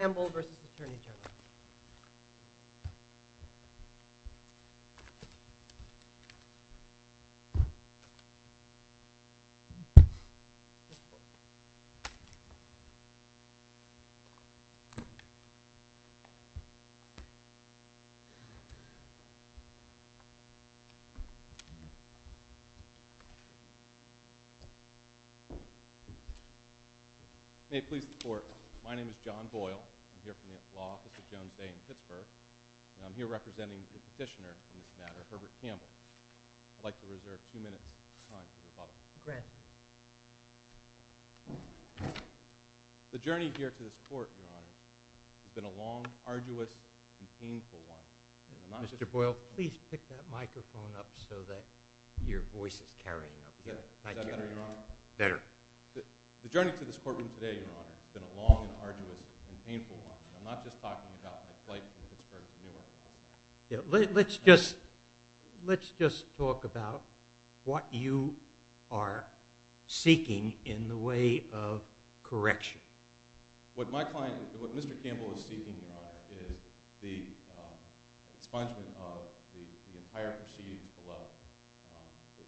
cterny Territory. I'm here representing the petitioner on this matter, Herbert Campbell. I'd like to reserve a few minutes of time for the public. The journey here to this court, Your Honor, has been a long, arduous, and painful one. Mr. Boyle, please pick that microphone up so that your voice is carrying up. Is that better, Your Honor? Better. The journey to this courtroom today, Your Honor, has been a long, arduous, and painful one. I'm not just talking about my flight from Pittsburgh to Newark. Let's just talk about what you are seeking in the way of correction. What Mr. Campbell is seeking, Your Honor, is the expungement of the entire proceedings below.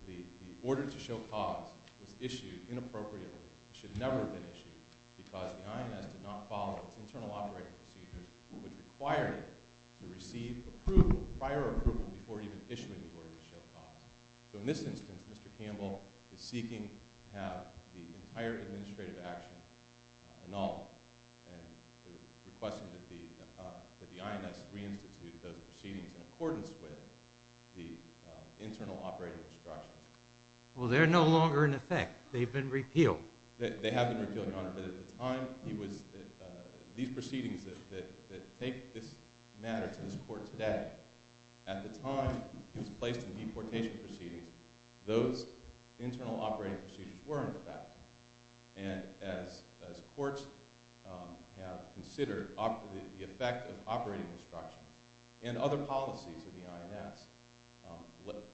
The order to show cause was issued inappropriately. It should never have been issued because the INS did not follow its internal operating procedures. It would require you to receive prior approval before even issuing the order to show cause. So in this instance, Mr. Campbell is seeking to have the entire administrative action annulled and is requesting that the INS reinstitute those proceedings in accordance with the internal operating instructions. Well, they're no longer in effect. They've been repealed. They have been repealed, Your Honor, but at the time, these proceedings that make this matter to this court today, at the time it was placed in deportation proceedings, those internal operating proceedings were in effect. And as courts have considered the effect of operating instructions and other policies of the INS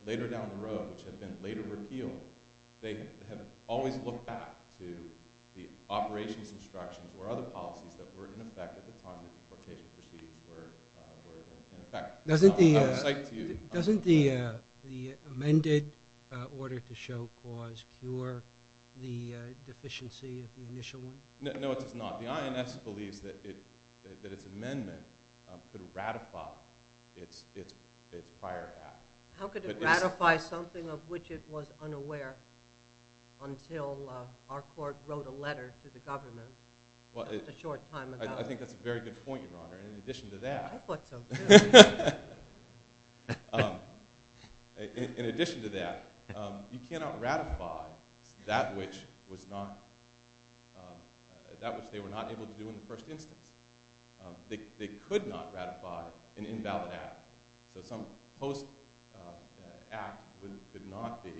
later down the road, which have been later repealed, they have always looked back to the operations instructions or other policies that were in effect at the time the deportation proceedings were in effect. Doesn't the amended order to show cause cure the deficiency of the initial one? No, it does not. The INS believes that its amendment could ratify its prior act. How could it ratify something of which it was unaware until our court wrote a letter to the government a short time ago? I think that's a very good point, Your Honor. In addition to that, you cannot ratify that which they were not able to do in the first instance. They could not ratify an invalid act. So some post-act could not be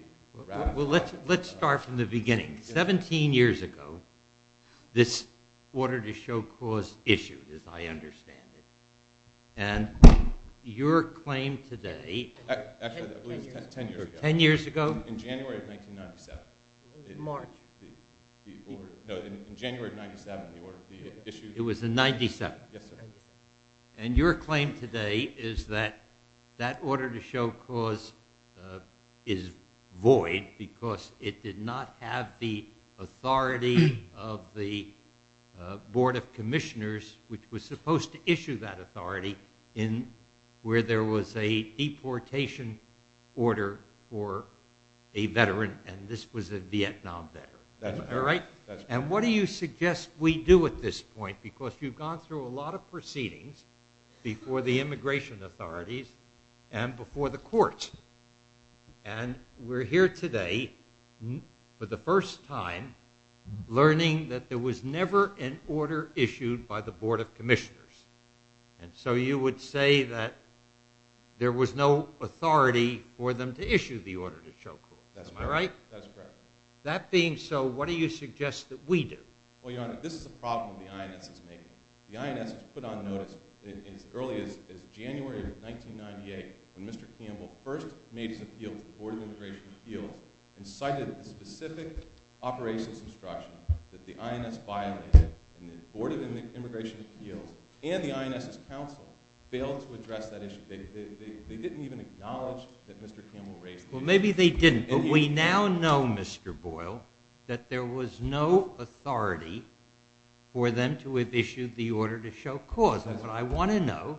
ratified. Well, let's start from the beginning. Seventeen years ago, this order to show cause issued, as I understand it. And your claim today... Actually, that was ten years ago. Ten years ago? In January of 1997. March. No, in January of 1997, the issue... It was in 1997. Yes, sir. And your claim today is that that order to show cause is void because it did not have the authority of the Board of Commissioners, which was supposed to issue that authority, where there was a deportation order for a veteran. And this was a Vietnam veteran. That's right. And what do you suggest we do at this point? Because you've gone through a lot of proceedings before the immigration authorities and before the courts. And we're here today for the first time learning that there was never an order issued by the Board of Commissioners. And so you would say that there was no authority for them to issue the order to show cause. Am I right? That's correct. That being so, what do you suggest that we do? Well, Your Honor, this is a problem the INS is making. The INS put on notice as early as January of 1998 when Mr. Campbell first made his appeal to the Board of Immigration Appeals and cited the specific operations instruction that the INS violated. And the Board of Immigration Appeals and the INS's counsel failed to address that issue. Well, maybe they didn't. But we now know, Mr. Boyle, that there was no authority for them to have issued the order to show cause. And what I want to know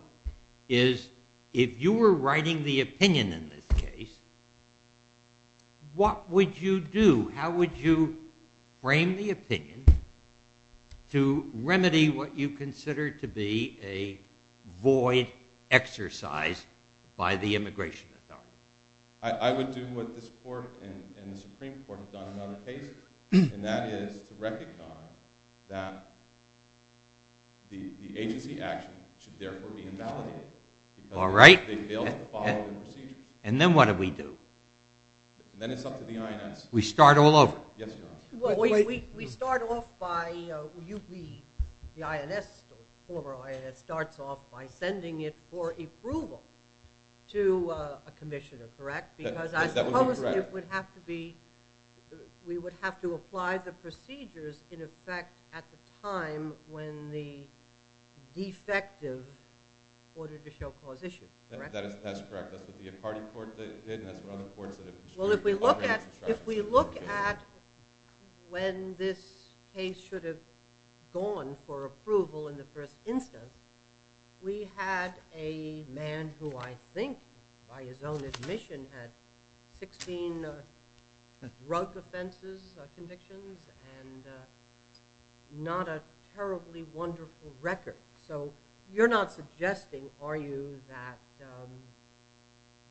is if you were writing the opinion in this case, what would you do? How would you frame the opinion to remedy what you consider to be a void exercise by the immigration authorities? I would do what this Court and the Supreme Court have done in other cases, and that is to recognize that the agency action should therefore be invalidated. All right. Because they failed to follow the procedure. And then what do we do? Then it's up to the INS. We start all over. Yes, Your Honor. We start off by – the INS, the former INS, starts off by sending it for approval to a commissioner, correct? Because I suppose it would have to be – we would have to apply the procedures, in effect, at the time when the defective ordered to show cause issued, correct? That's correct. That would be a party court that did, and that's what other courts that have pursued. Well, if we look at when this case should have gone for approval in the first instance, we had a man who I think, by his own admission, had 16 drug offenses convictions and not a terribly wonderful record. So you're not suggesting, are you, that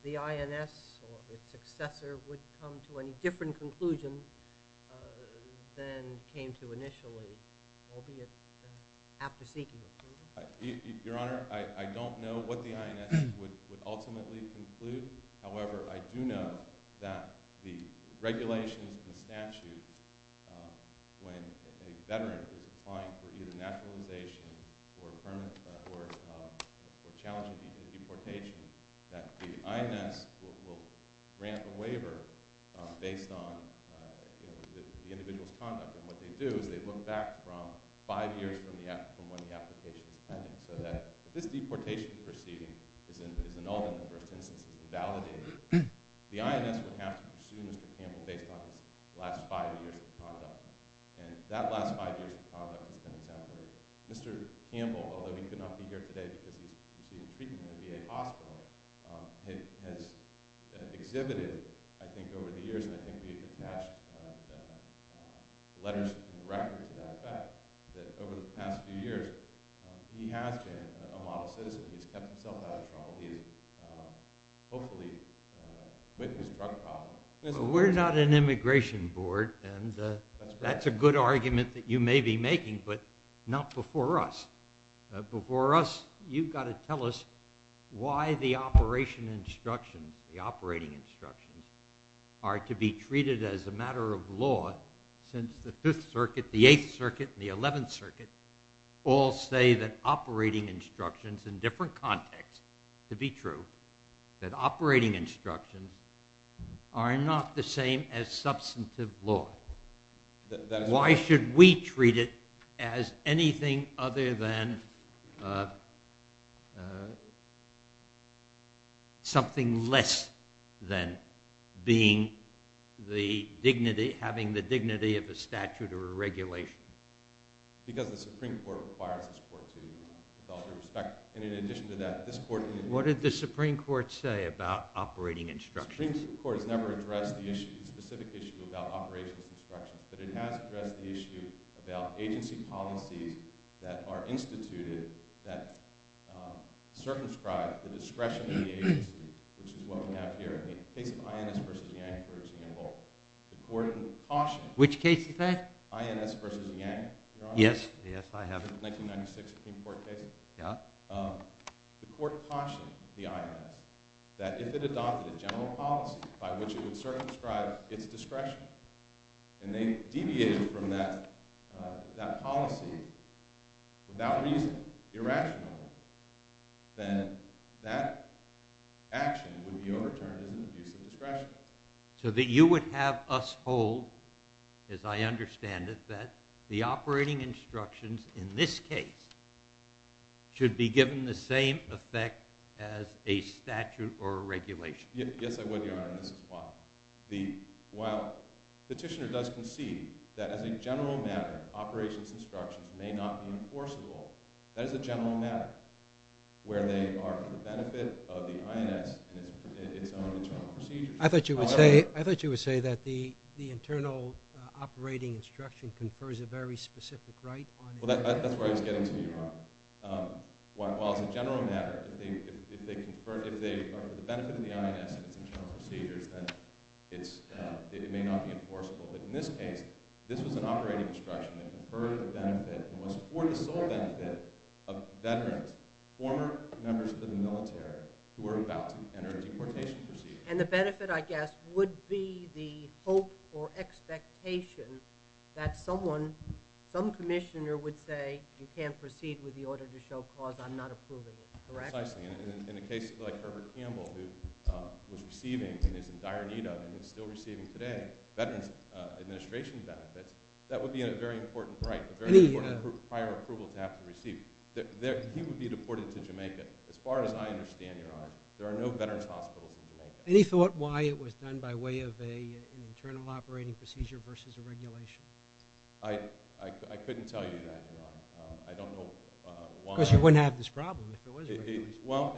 the INS or its successor would come to any different conclusions than came to initially, albeit after seeking approval? Your Honor, I don't know what the INS would ultimately conclude. However, I do know that the regulations and statutes, when a veteran is applying for either naturalization or challenging the deportation, that the INS will grant the waiver based on the individual's conduct. And what they do is they look back from five years from when the application was pending so that if this deportation proceeding is annulled in the first instance and invalidated, the INS would have to pursue Mr. Campbell based on his last five years of conduct. And that last five years of conduct has been exemplary. Mr. Campbell, although he could not be here today because he's receiving treatment at a VA hospital, has exhibited, I think over the years, and I think we've attached letters and records to that fact, that over the past few years, he has been a model citizen. He's kept himself out of trouble. He has hopefully witnessed drug problems. We're not an immigration board, and that's a good argument that you may be making, but not before us. Before us, you've got to tell us why the operation instructions, the operating instructions, are to be treated as a matter of law since the Fifth Circuit, the Eighth Circuit, and the Eleventh Circuit all say that operating instructions in different contexts, to be true, that operating instructions are not the same as substantive law. Why should we treat it as anything other than something less than being the dignity, having the dignity of a statute or a regulation? Because the Supreme Court requires this court to, with all due respect, and in addition to that, this court... What did the Supreme Court say about operating instructions? The Supreme Court has never addressed the issue, the specific issue about operating instructions, but it has addressed the issue about agency policies that are instituted, that circumscribe the discretion of the agency, which is what we have here. In the case of INS versus Yang, for example, the court cautioned... Which case is that? INS versus Yang, Your Honor. Yes, yes, I have it. 1996 Supreme Court case. Yeah. The court cautioned the INS that if it adopted a general policy by which it would circumscribe its discretion, and they deviated from that policy without reason, irrationally, then that action would be overturned as an abuse of discretion. So that you would have us hold, as I understand it, that the operating instructions in this case should be given the same effect as a statute or a regulation. Yes, I would, Your Honor, and this is why. While Petitioner does concede that as a general matter, operations instructions may not be enforceable, that is a general matter, where they are for the benefit of the INS and its own internal procedures. I thought you would say that the internal operating instruction confers a very specific right. Well, that's where I was getting to, Your Honor. While it's a general matter, if they are for the benefit of the INS and its internal procedures, then it may not be enforceable. But in this case, this was an operating instruction that conferred the benefit, and was for the sole benefit of veterans, former members of the military, who were about to enter a deportation procedure. And the benefit, I guess, would be the hope or expectation that someone, some commissioner would say you can't proceed with the order to show cause, I'm not approving it, correct? Precisely. In a case like Herbert Campbell, who was receiving and is in dire need of and is still receiving today, veterans administration benefits, that would be a very important right, a very important prior approval to have to receive. He would be deported to Jamaica. As far as I understand, Your Honor, there are no veterans hospitals in Jamaica. Any thought why it was done by way of an internal operating procedure versus a regulation? I couldn't tell you that, Your Honor. Because you wouldn't have this problem if there was a regulation. Well,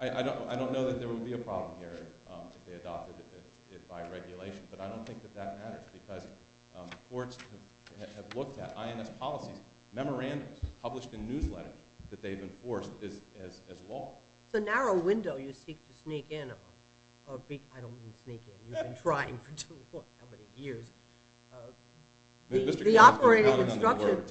I don't know that there would be a problem here if they adopted it by regulation, but I don't think that that matters because courts have looked at INS policies, memorandums published in newsletters that they've enforced as law. It's a narrow window you seek to sneak in. I don't mean sneak in. You've been trying for, what, how many years? The operating instruction.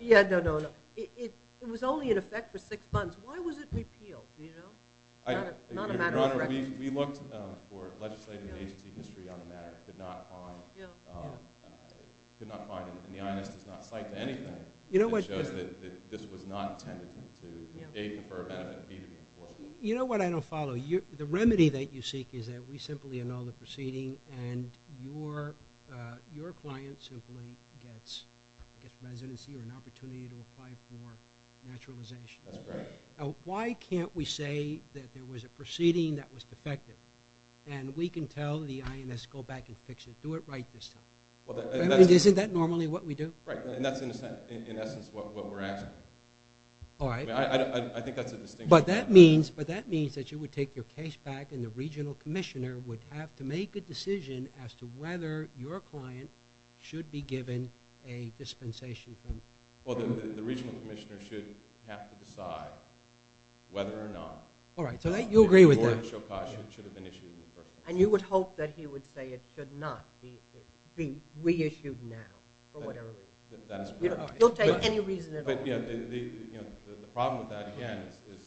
Yeah, no, no, no. It was only in effect for six months. Why was it repealed, do you know? Not a matter of record. Your Honor, we looked for legislative agency history on the matter, could not find it, and the INS does not cite anything that shows that this was not intended to aid, defer, benefit, or be deported. You know what I don't follow? The remedy that you seek is that we simply annul the proceeding and your client simply gets residency or an opportunity to apply for naturalization. That's correct. Why can't we say that there was a proceeding that was defective and we can tell the INS to go back and fix it, do it right this time? Isn't that normally what we do? Right, and that's, in essence, what we're asking. All right. I think that's a distinction. But that means that you would take your case back and the regional commissioner would have to make a decision as to whether your client should be given a dispensation from you. Well, the regional commissioner should have to decide whether or not All right, so you agree with that. the award of Shokash should have been issued in the first place. And you would hope that he would say it should not be reissued now for whatever reason. That is correct. He'll take any reason at all. The problem with that, again, as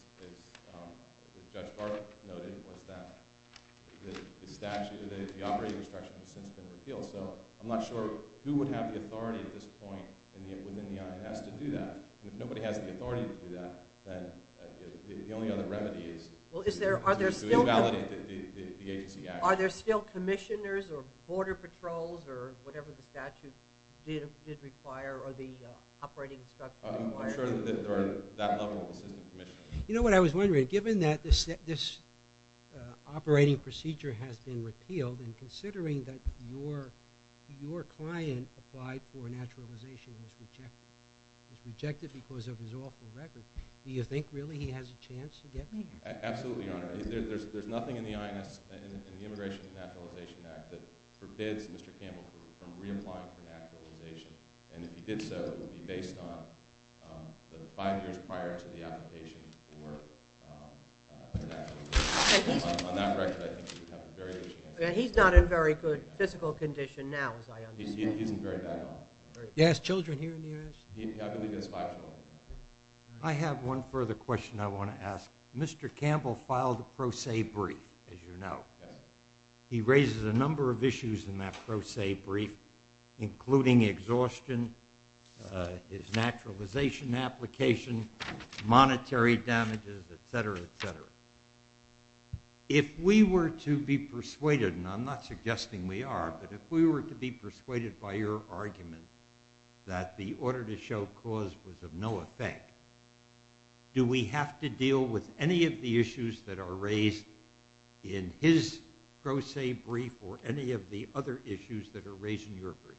Judge Barker noted, was that the statute or the operating instruction has since been repealed. So I'm not sure who would have the authority at this point within the INS to do that. If nobody has the authority to do that, then the only other remedy is to invalidate the agency action. Are there still commissioners or border patrols or whatever the statute did require or the operating instruction required? I'm sure that there are that level of assistant commissioners. You know what I was wondering, given that this operating procedure has been repealed and considering that your client applied for naturalization and was rejected because of his awful record, do you think really he has a chance to get me? Absolutely, Your Honor. There's nothing in the Immigration and Naturalization Act that forbids Mr. Campbell from reapplying for naturalization. And if he did so, it would be based on the five years prior to the application for naturalization. On that record, I think he would have a very good chance. He's not in very good physical condition now, as I understand. He isn't very bad at all. He has children here in the U.S.? I believe he has five children. I have one further question I want to ask. Mr. Campbell filed a pro se brief, as you know. He raises a number of issues in that pro se brief, including exhaustion, his naturalization application, monetary damages, et cetera, et cetera. If we were to be persuaded, and I'm not suggesting we are, but if we were to be persuaded by your argument that the order to show cause was of no effect, do we have to deal with any of the issues that are raised in his pro se brief or any of the other issues that are raised in your brief?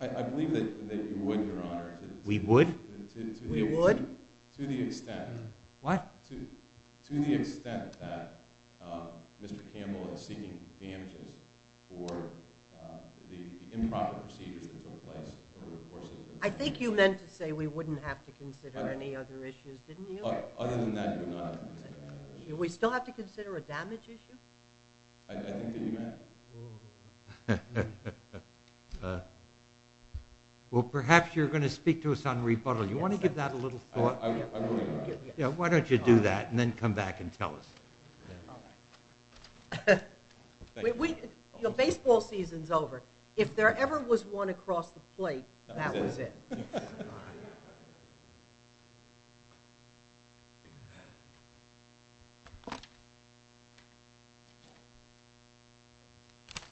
I believe that you would, Your Honor. We would? We would. To the extent that Mr. Campbell is seeking damages for the improper procedures that took place. I think you meant to say we wouldn't have to consider any other issues, didn't you? Other than that, Your Honor. Do we still have to consider a damage issue? I think that you meant it. Well, perhaps you're going to speak to us on rebuttal. You want to give that a little thought? I will. Why don't you do that and then come back and tell us? The baseball season is over. If there ever was one across the plate, that was it. Good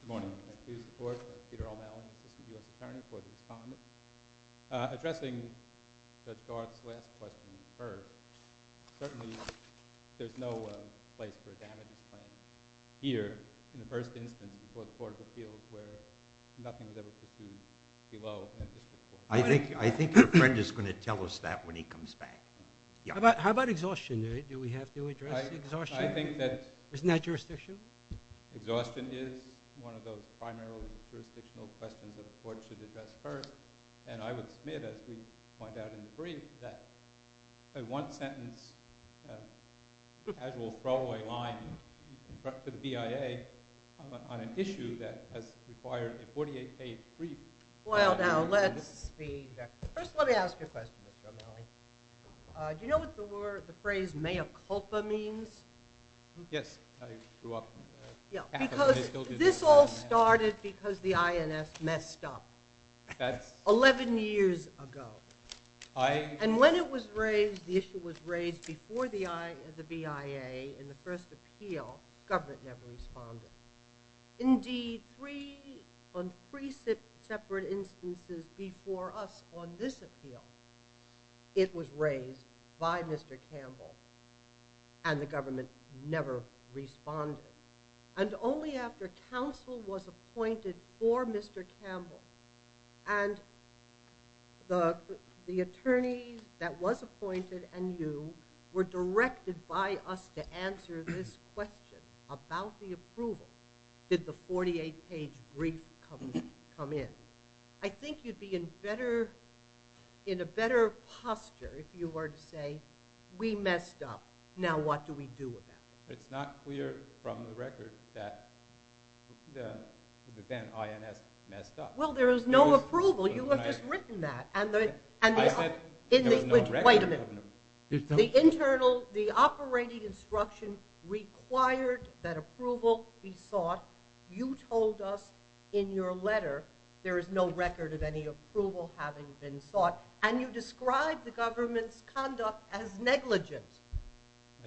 morning. I do support Peter O'Malley, Assistant U.S. Attorney for the Department. Addressing Judge Garth's last question first, certainly there's no place for a damage claim here in the first instance for the court of appeals where nothing is ever perceived below and just before. I think your friend is going to tell us that when he comes back. How about exhaustion? Do we have to address exhaustion? Isn't that jurisdiction? Exhaustion is one of those primarily jurisdictional questions that a court should address first. And I would submit, as we point out in the brief, that one sentence casual throwaway line for the BIA on an issue that has required a 48-page brief. Well, now, let's see. First, let me ask you a question, Mr. O'Malley. Do you know what the phrase mea culpa means? Yes, I grew up. Because this all started because the INS messed up 11 years ago. And when it was raised, the issue was raised before the BIA in the first appeal, government never responded. Indeed, on three separate instances before us on this appeal, it was raised by Mr. Campbell, and the government never responded. And the attorney that was appointed and you were directed by us to answer this question about the approval. Did the 48-page brief come in? I think you'd be in a better posture if you were to say, we messed up. Now what do we do about it? It's not clear from the record that the then INS messed up. Well, there is no approval. You have just written that. Wait a minute. The internal, the operating instruction required that approval be sought. You told us in your letter there is no record of any approval having been sought, and you described the government's conduct as negligent.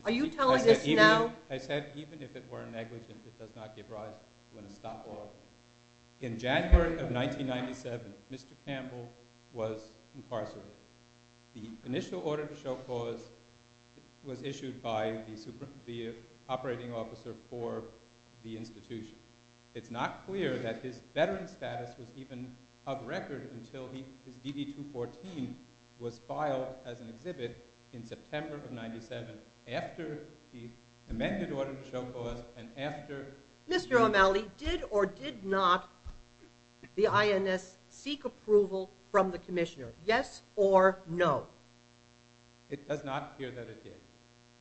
Are you telling us now? I said even if it were negligent, it does not give rise to an estoppel. In January of 1997, Mr. Campbell was incarcerated. The initial order to show cause was issued by the operating officer for the institution. It's not clear that his veteran status was even of record until his DD-214 was filed as an exhibit in September of 1997, after the amended order to show cause and after— Mr. O'Malley, did or did not the INS seek approval from the commissioner? Yes or no? It does not appear that it did.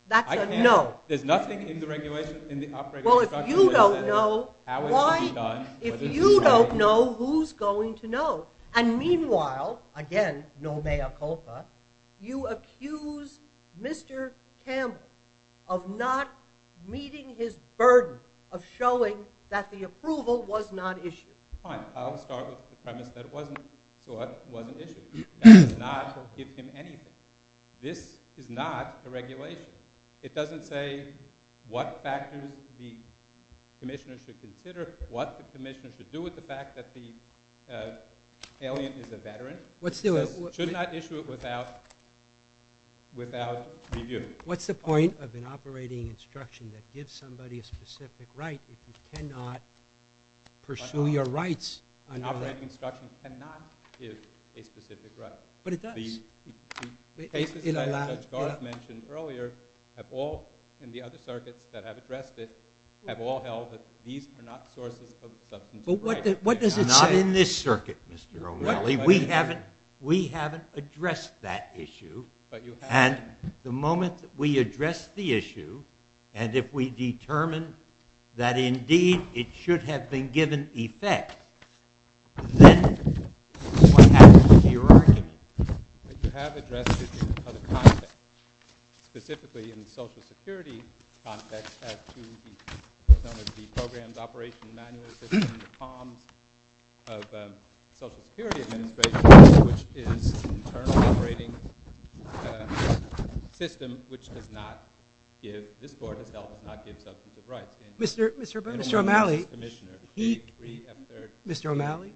That's a no. There's nothing in the operating instruction. Well, if you don't know, why— How is it to be done? If you don't know, who's going to know? And meanwhile, again, no mea culpa, you accuse Mr. Campbell of not meeting his burden of showing that the approval was not issued. Fine. I'll start with the premise that it wasn't issued. That does not forgive him anything. This is not a regulation. It doesn't say what factors the commissioner should consider, what the commissioner should do with the fact that the alien is a veteran. It says, should not issue it without review. What's the point of an operating instruction that gives somebody a specific right if you cannot pursue your rights under that? An operating instruction cannot give a specific right. But it does. The cases that Judge Garth mentioned earlier have all, and the other circuits that have addressed it, have all held that these are not sources of substantive rights. But what does it say? Not in this circuit, Mr. O'Malley. We haven't addressed that issue. But you have. And the moment we address the issue, and if we determine that indeed it should have been given effect, then what happens to your argument? You have addressed it in other contexts. Specifically in the Social Security context as to some of the programs, operations, manuals that are in the palms of the Social Security Administration, which is an internally operating system, which does not give, this Court itself does not give substantive rights. Mr. O'Malley,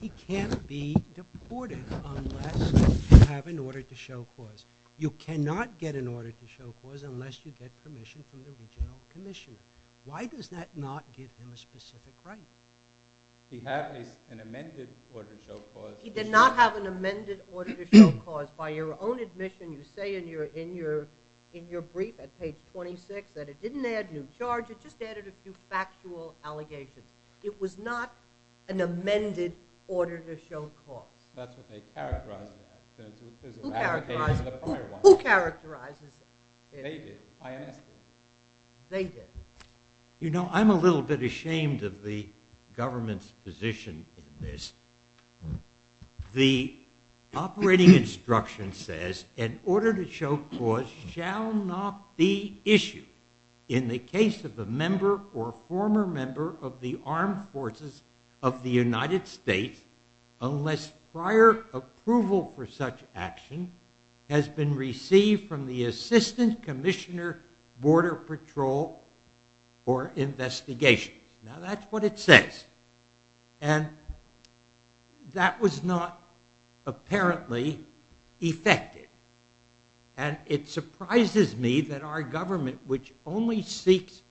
he can't be deported unless you have an order to show cause. You cannot get an order to show cause unless you get permission from the regional commissioner. Why does that not give him a specific right? He had an amended order to show cause. By your own admission, you say in your brief at page 26 that it didn't add new charges, just added a few factual allegations. It was not an amended order to show cause. That's what they characterized it as. Who characterized it? Who characterized it? They did, INS did. They did. You know, I'm a little bit ashamed of the government's position in this. The operating instruction says an order to show cause shall not be issued in the case of a member or former member of the armed forces of the United States unless prior approval for such action has been received from the assistant commissioner, border patrol, or investigation. Now that's what it says. And that was not apparently effective. And it surprises me that our government, which only seeks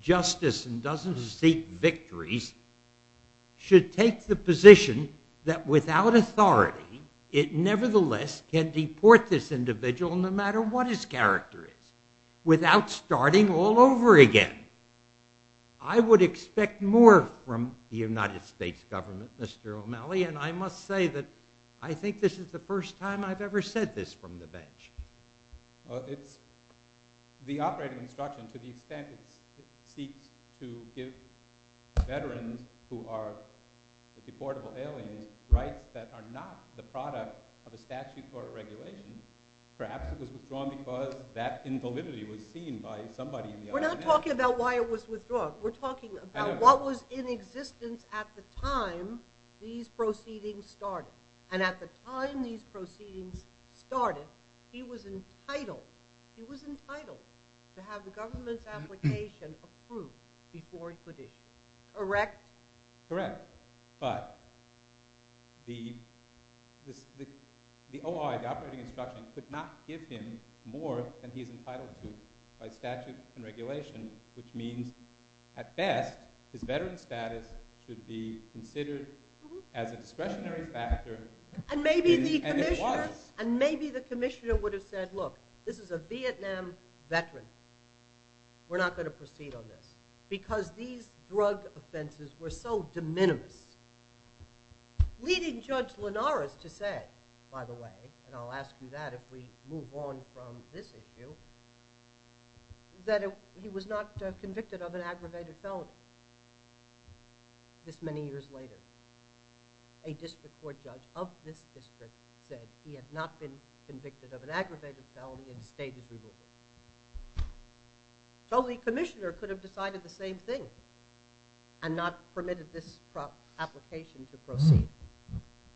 justice and doesn't seek victories, should take the position that without authority, it nevertheless can deport this individual no matter what his character is, without starting all over again. I would expect more from the United States government, Mr. O'Malley, and I must say that I think this is the first time I've ever said this from the bench. It's the operating instruction to the extent it seeks to give veterans who are deportable aliens rights that are not the product of a statute or a regulation. Perhaps it was withdrawn because that invalidity was seen by somebody in the army. We're not talking about why it was withdrawn. We're talking about what was in existence at the time these proceedings started. And at the time these proceedings started, he was entitled to have the government's application approved before he could issue it. Correct? Correct. But the OI, the operating instruction, could not give him more than he is entitled to by statute and regulation, which means at best his veteran status should be considered as a discretionary factor. And maybe the commissioner would have said, look, this is a Vietnam veteran. We're not going to proceed on this. Because these drug offenses were so de minimis, leading Judge Linares to say, by the way, and I'll ask you that if we move on from this issue, that he was not convicted of an aggravated felony. This many years later, a district court judge of this district said he had not been convicted of an aggravated felony and stayed with the movement. So the commissioner could have decided the same thing and not permitted this application to proceed.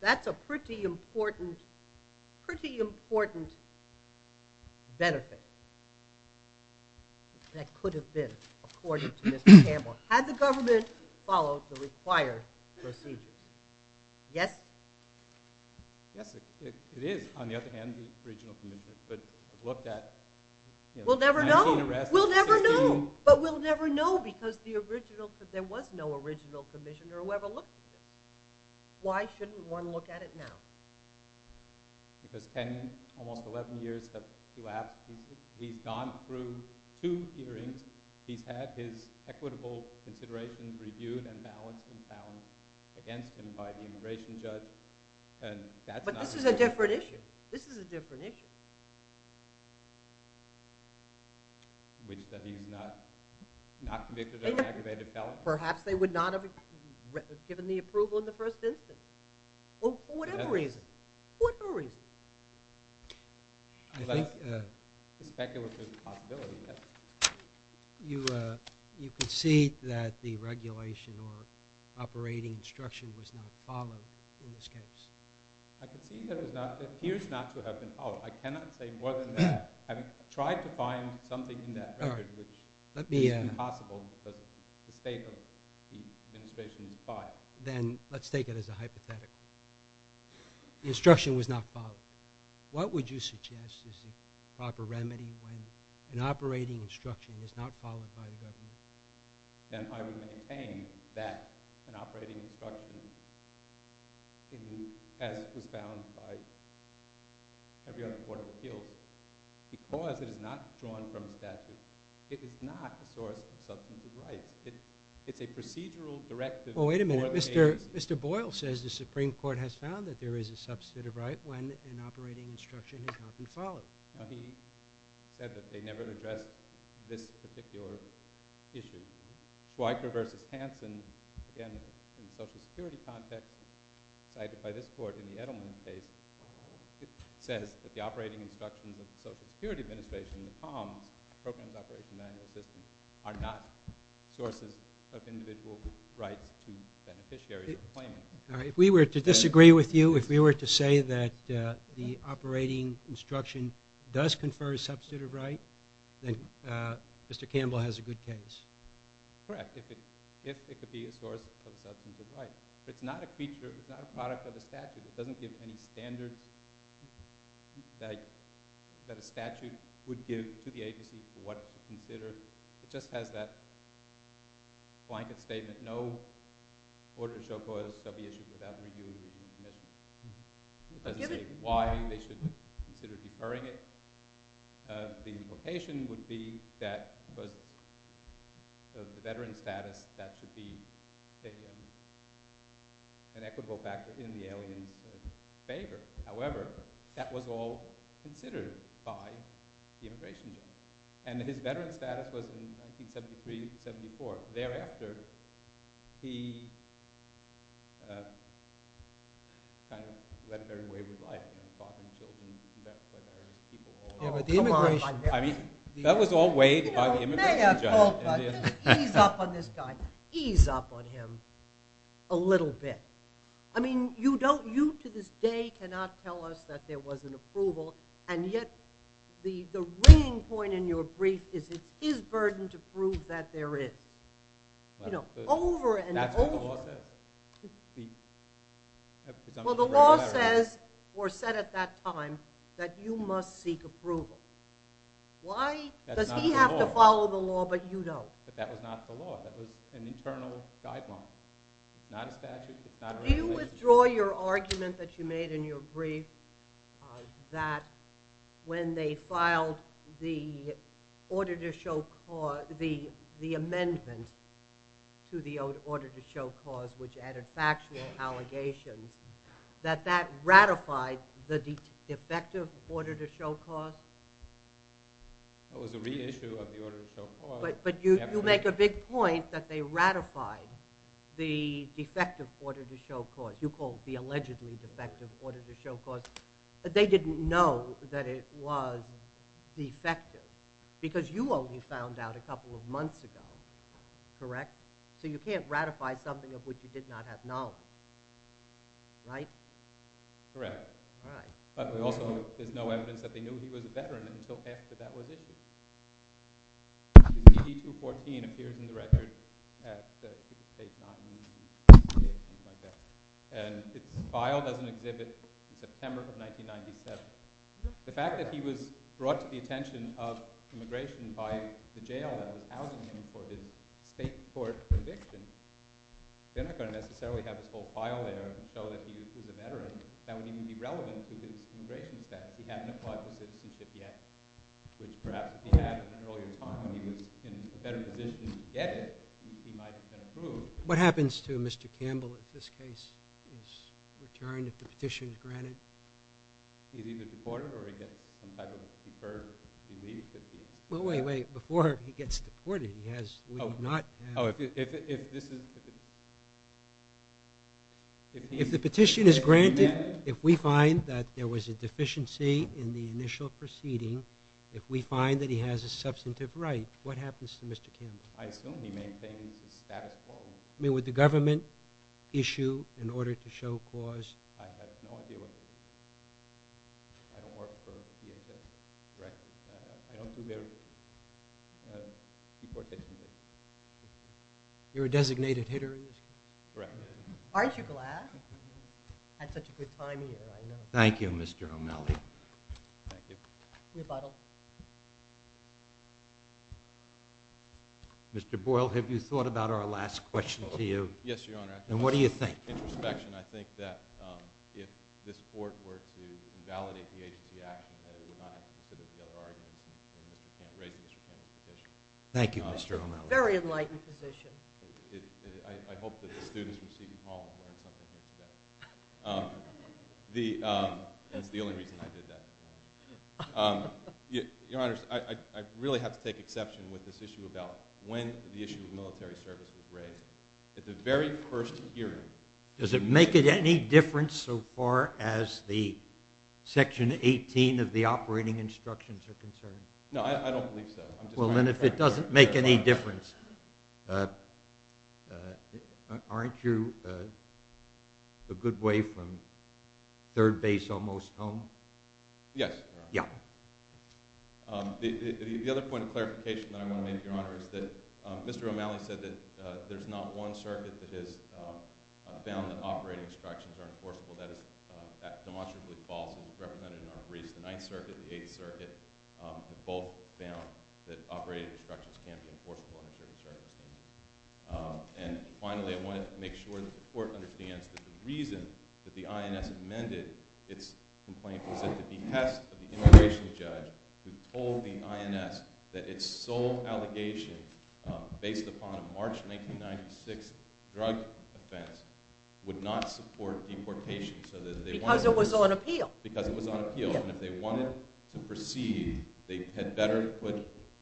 That's a pretty important benefit that could have been, according to Mr. Campbell. Had the government followed the required procedure? Yes? Yes, it is, on the other hand, the original commissioner could have looked at 19 arrests. We'll never know. But we'll never know because there was no original commissioner who ever looked at it. Why shouldn't one look at it now? Because almost 11 years have elapsed. He's gone through two hearings. He's had his equitable considerations reviewed and balanced and found against him by the immigration judge. But this is a different issue. This is a different issue. Which is that he's not convicted of an aggravated felony. Perhaps they would not have given the approval in the first instance. For whatever reason. For whatever reason. Well, that's a speculative possibility. You can see that the regulation or operating instruction was not followed in this case. I can see that it appears not to have been followed. I cannot say more than that. I've tried to find something in that record which is impossible because the state of the administration is biased. Then let's take it as a hypothetical. The instruction was not followed. What would you suggest is the proper remedy when an operating instruction is not followed by the government? Then I would maintain that an operating instruction, as was found by every other court of appeals, because it is not drawn from the statute, it is not a source of substantive rights. It's a procedural directive for the agency. Well, wait a minute. Mr. Boyle says the Supreme Court has found that there is a substantive right when an operating instruction has not been followed. He said that they never addressed this particular issue. Schweiker v. Hansen, again, in a social security context, cited by this court in the Edelman case, says that the operating instructions of the Social Security Administration, the POMS, Program of Operational Manual Assistance, are not sources of individual rights to beneficiary employment. If we were to disagree with you, if we were to say that the operating instruction does confer a substantive right, then Mr. Campbell has a good case. Correct, if it could be a source of substantive rights. But it's not a feature, it's not a product of the statute. It doesn't give any standards that a statute would give to the agency for what to consider. It just has that blanket statement, no order to show cause shall be issued without review of the commission. It doesn't say why they should consider deferring it. The implication would be that the veteran status, that should be an equitable factor in the alien's favor. However, that was all considered by the immigration judge. And his veteran status was in 1973-74. Thereafter, he kind of led a very wavered life. His father and children met by various people. Oh, come on. That was all weighed by the immigration judge. May I call for ease up on this guy? Ease up on him a little bit. I mean, you to this day cannot tell us that there was an approval, and yet the ringing point in your brief is it is burdened to prove that there is. You know, over and over. That's what the law says. Well, the law says, or said at that time, that you must seek approval. Why does he have to follow the law but you don't? But that was not the law. That was an internal guideline. It's not a statute, it's not a regulation. Do you withdraw your argument that you made in your brief that when they filed the order to show cause, the amendment to the order to show cause, which added factual allegations, that that ratified the defective order to show cause? That was a reissue of the order to show cause. But you make a big point that they ratified the defective order to show cause. You call it the allegedly defective order to show cause. They didn't know that it was defective because you only found out a couple of months ago, correct? So you can't ratify something of which you did not have knowledge, right? Correct. But also there's no evidence that they knew he was a veteran until after that was issued. The DD-214 appears in the record at the state's non-union. And it's filed as an exhibit in September of 1997. The fact that he was brought to the attention of immigration by the jail that was housing him for his state court conviction, they're not going to necessarily have this whole file there to show that he was a veteran. That would even be relevant to his immigration status. He hadn't applied for citizenship yet, which perhaps if he had at an earlier time, and he was in a better position to get it, he might have been approved. What happens to Mr. Campbell if this case is returned, if the petition is granted? He's either deported or he gets some type of deferred leave. Well, wait, wait. Before he gets deported, he has leave not. Oh, if this is… If the petition is granted, if we find that there was a deficiency in the initial proceeding, if we find that he has a substantive right, what happens to Mr. Campbell? I assume he maintains his status quo. I mean, would the government issue an order to show cause? I have no idea what to do. I don't work for the DHS directly. I don't see their deportation. You're a designated hitter in this case? Correct. Aren't you glad? Had such a good time here, I know. Thank you, Mr. O'Malley. Thank you. Rebuttal. Mr. Boyle, have you thought about our last question to you? Yes, Your Honor. And what do you think? With introspection, I think that if this Court were to invalidate the agency action, that it would not have to consider the other arguments, and Mr. Campbell's petition. Thank you, Mr. O'Malley. Very enlightened position. I hope that the students from Seaton Hall have learned something from that. That's the only reason I did that. Your Honor, I really have to take exception with this issue about when the issue of military service was raised. At the very first hearing. Does it make any difference so far as the Section 18 of the operating instructions are concerned? No, I don't believe so. Well, then if it doesn't make any difference, aren't you a good way from third base almost home? Yes, Your Honor. Yeah. The other point of clarification that I want to make, Your Honor, is that Mr. O'Malley said that there's not one circuit that has found that operating instructions are enforceable. That is demonstrably false and is represented in our briefs. The Ninth Circuit, the Eighth Circuit, have both found that operating instructions can't be enforceable under military service. And finally, I want to make sure that the Court understands that the reason that the INS amended its complaint was at the behest of the immigration judge who told the INS that its sole allegation, based upon a March 1996 drug offense, would not support deportation. Because it was on appeal. Because it was on appeal. And if they wanted to proceed, they had better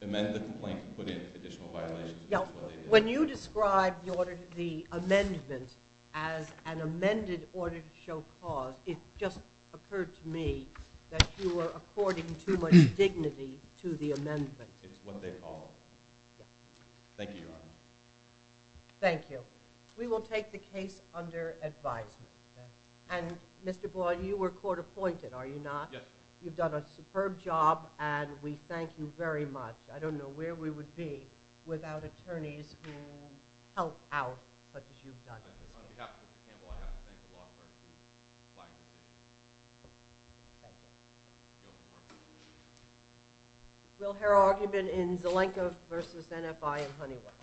amend the complaint and put in additional violations. When you describe the amendment as an amended order to show cause, it just occurred to me that you were according too much dignity to the amendment. It's what they called it. Thank you, Your Honor. Thank you. We will take the case under advisement. And, Mr. Boyd, you were court appointed, are you not? Yes. You've done a superb job, and we thank you very much. On behalf of Mr. Campbell, I have to thank the law firm. Will her argument in Zelenka v. NFI in Honeywell.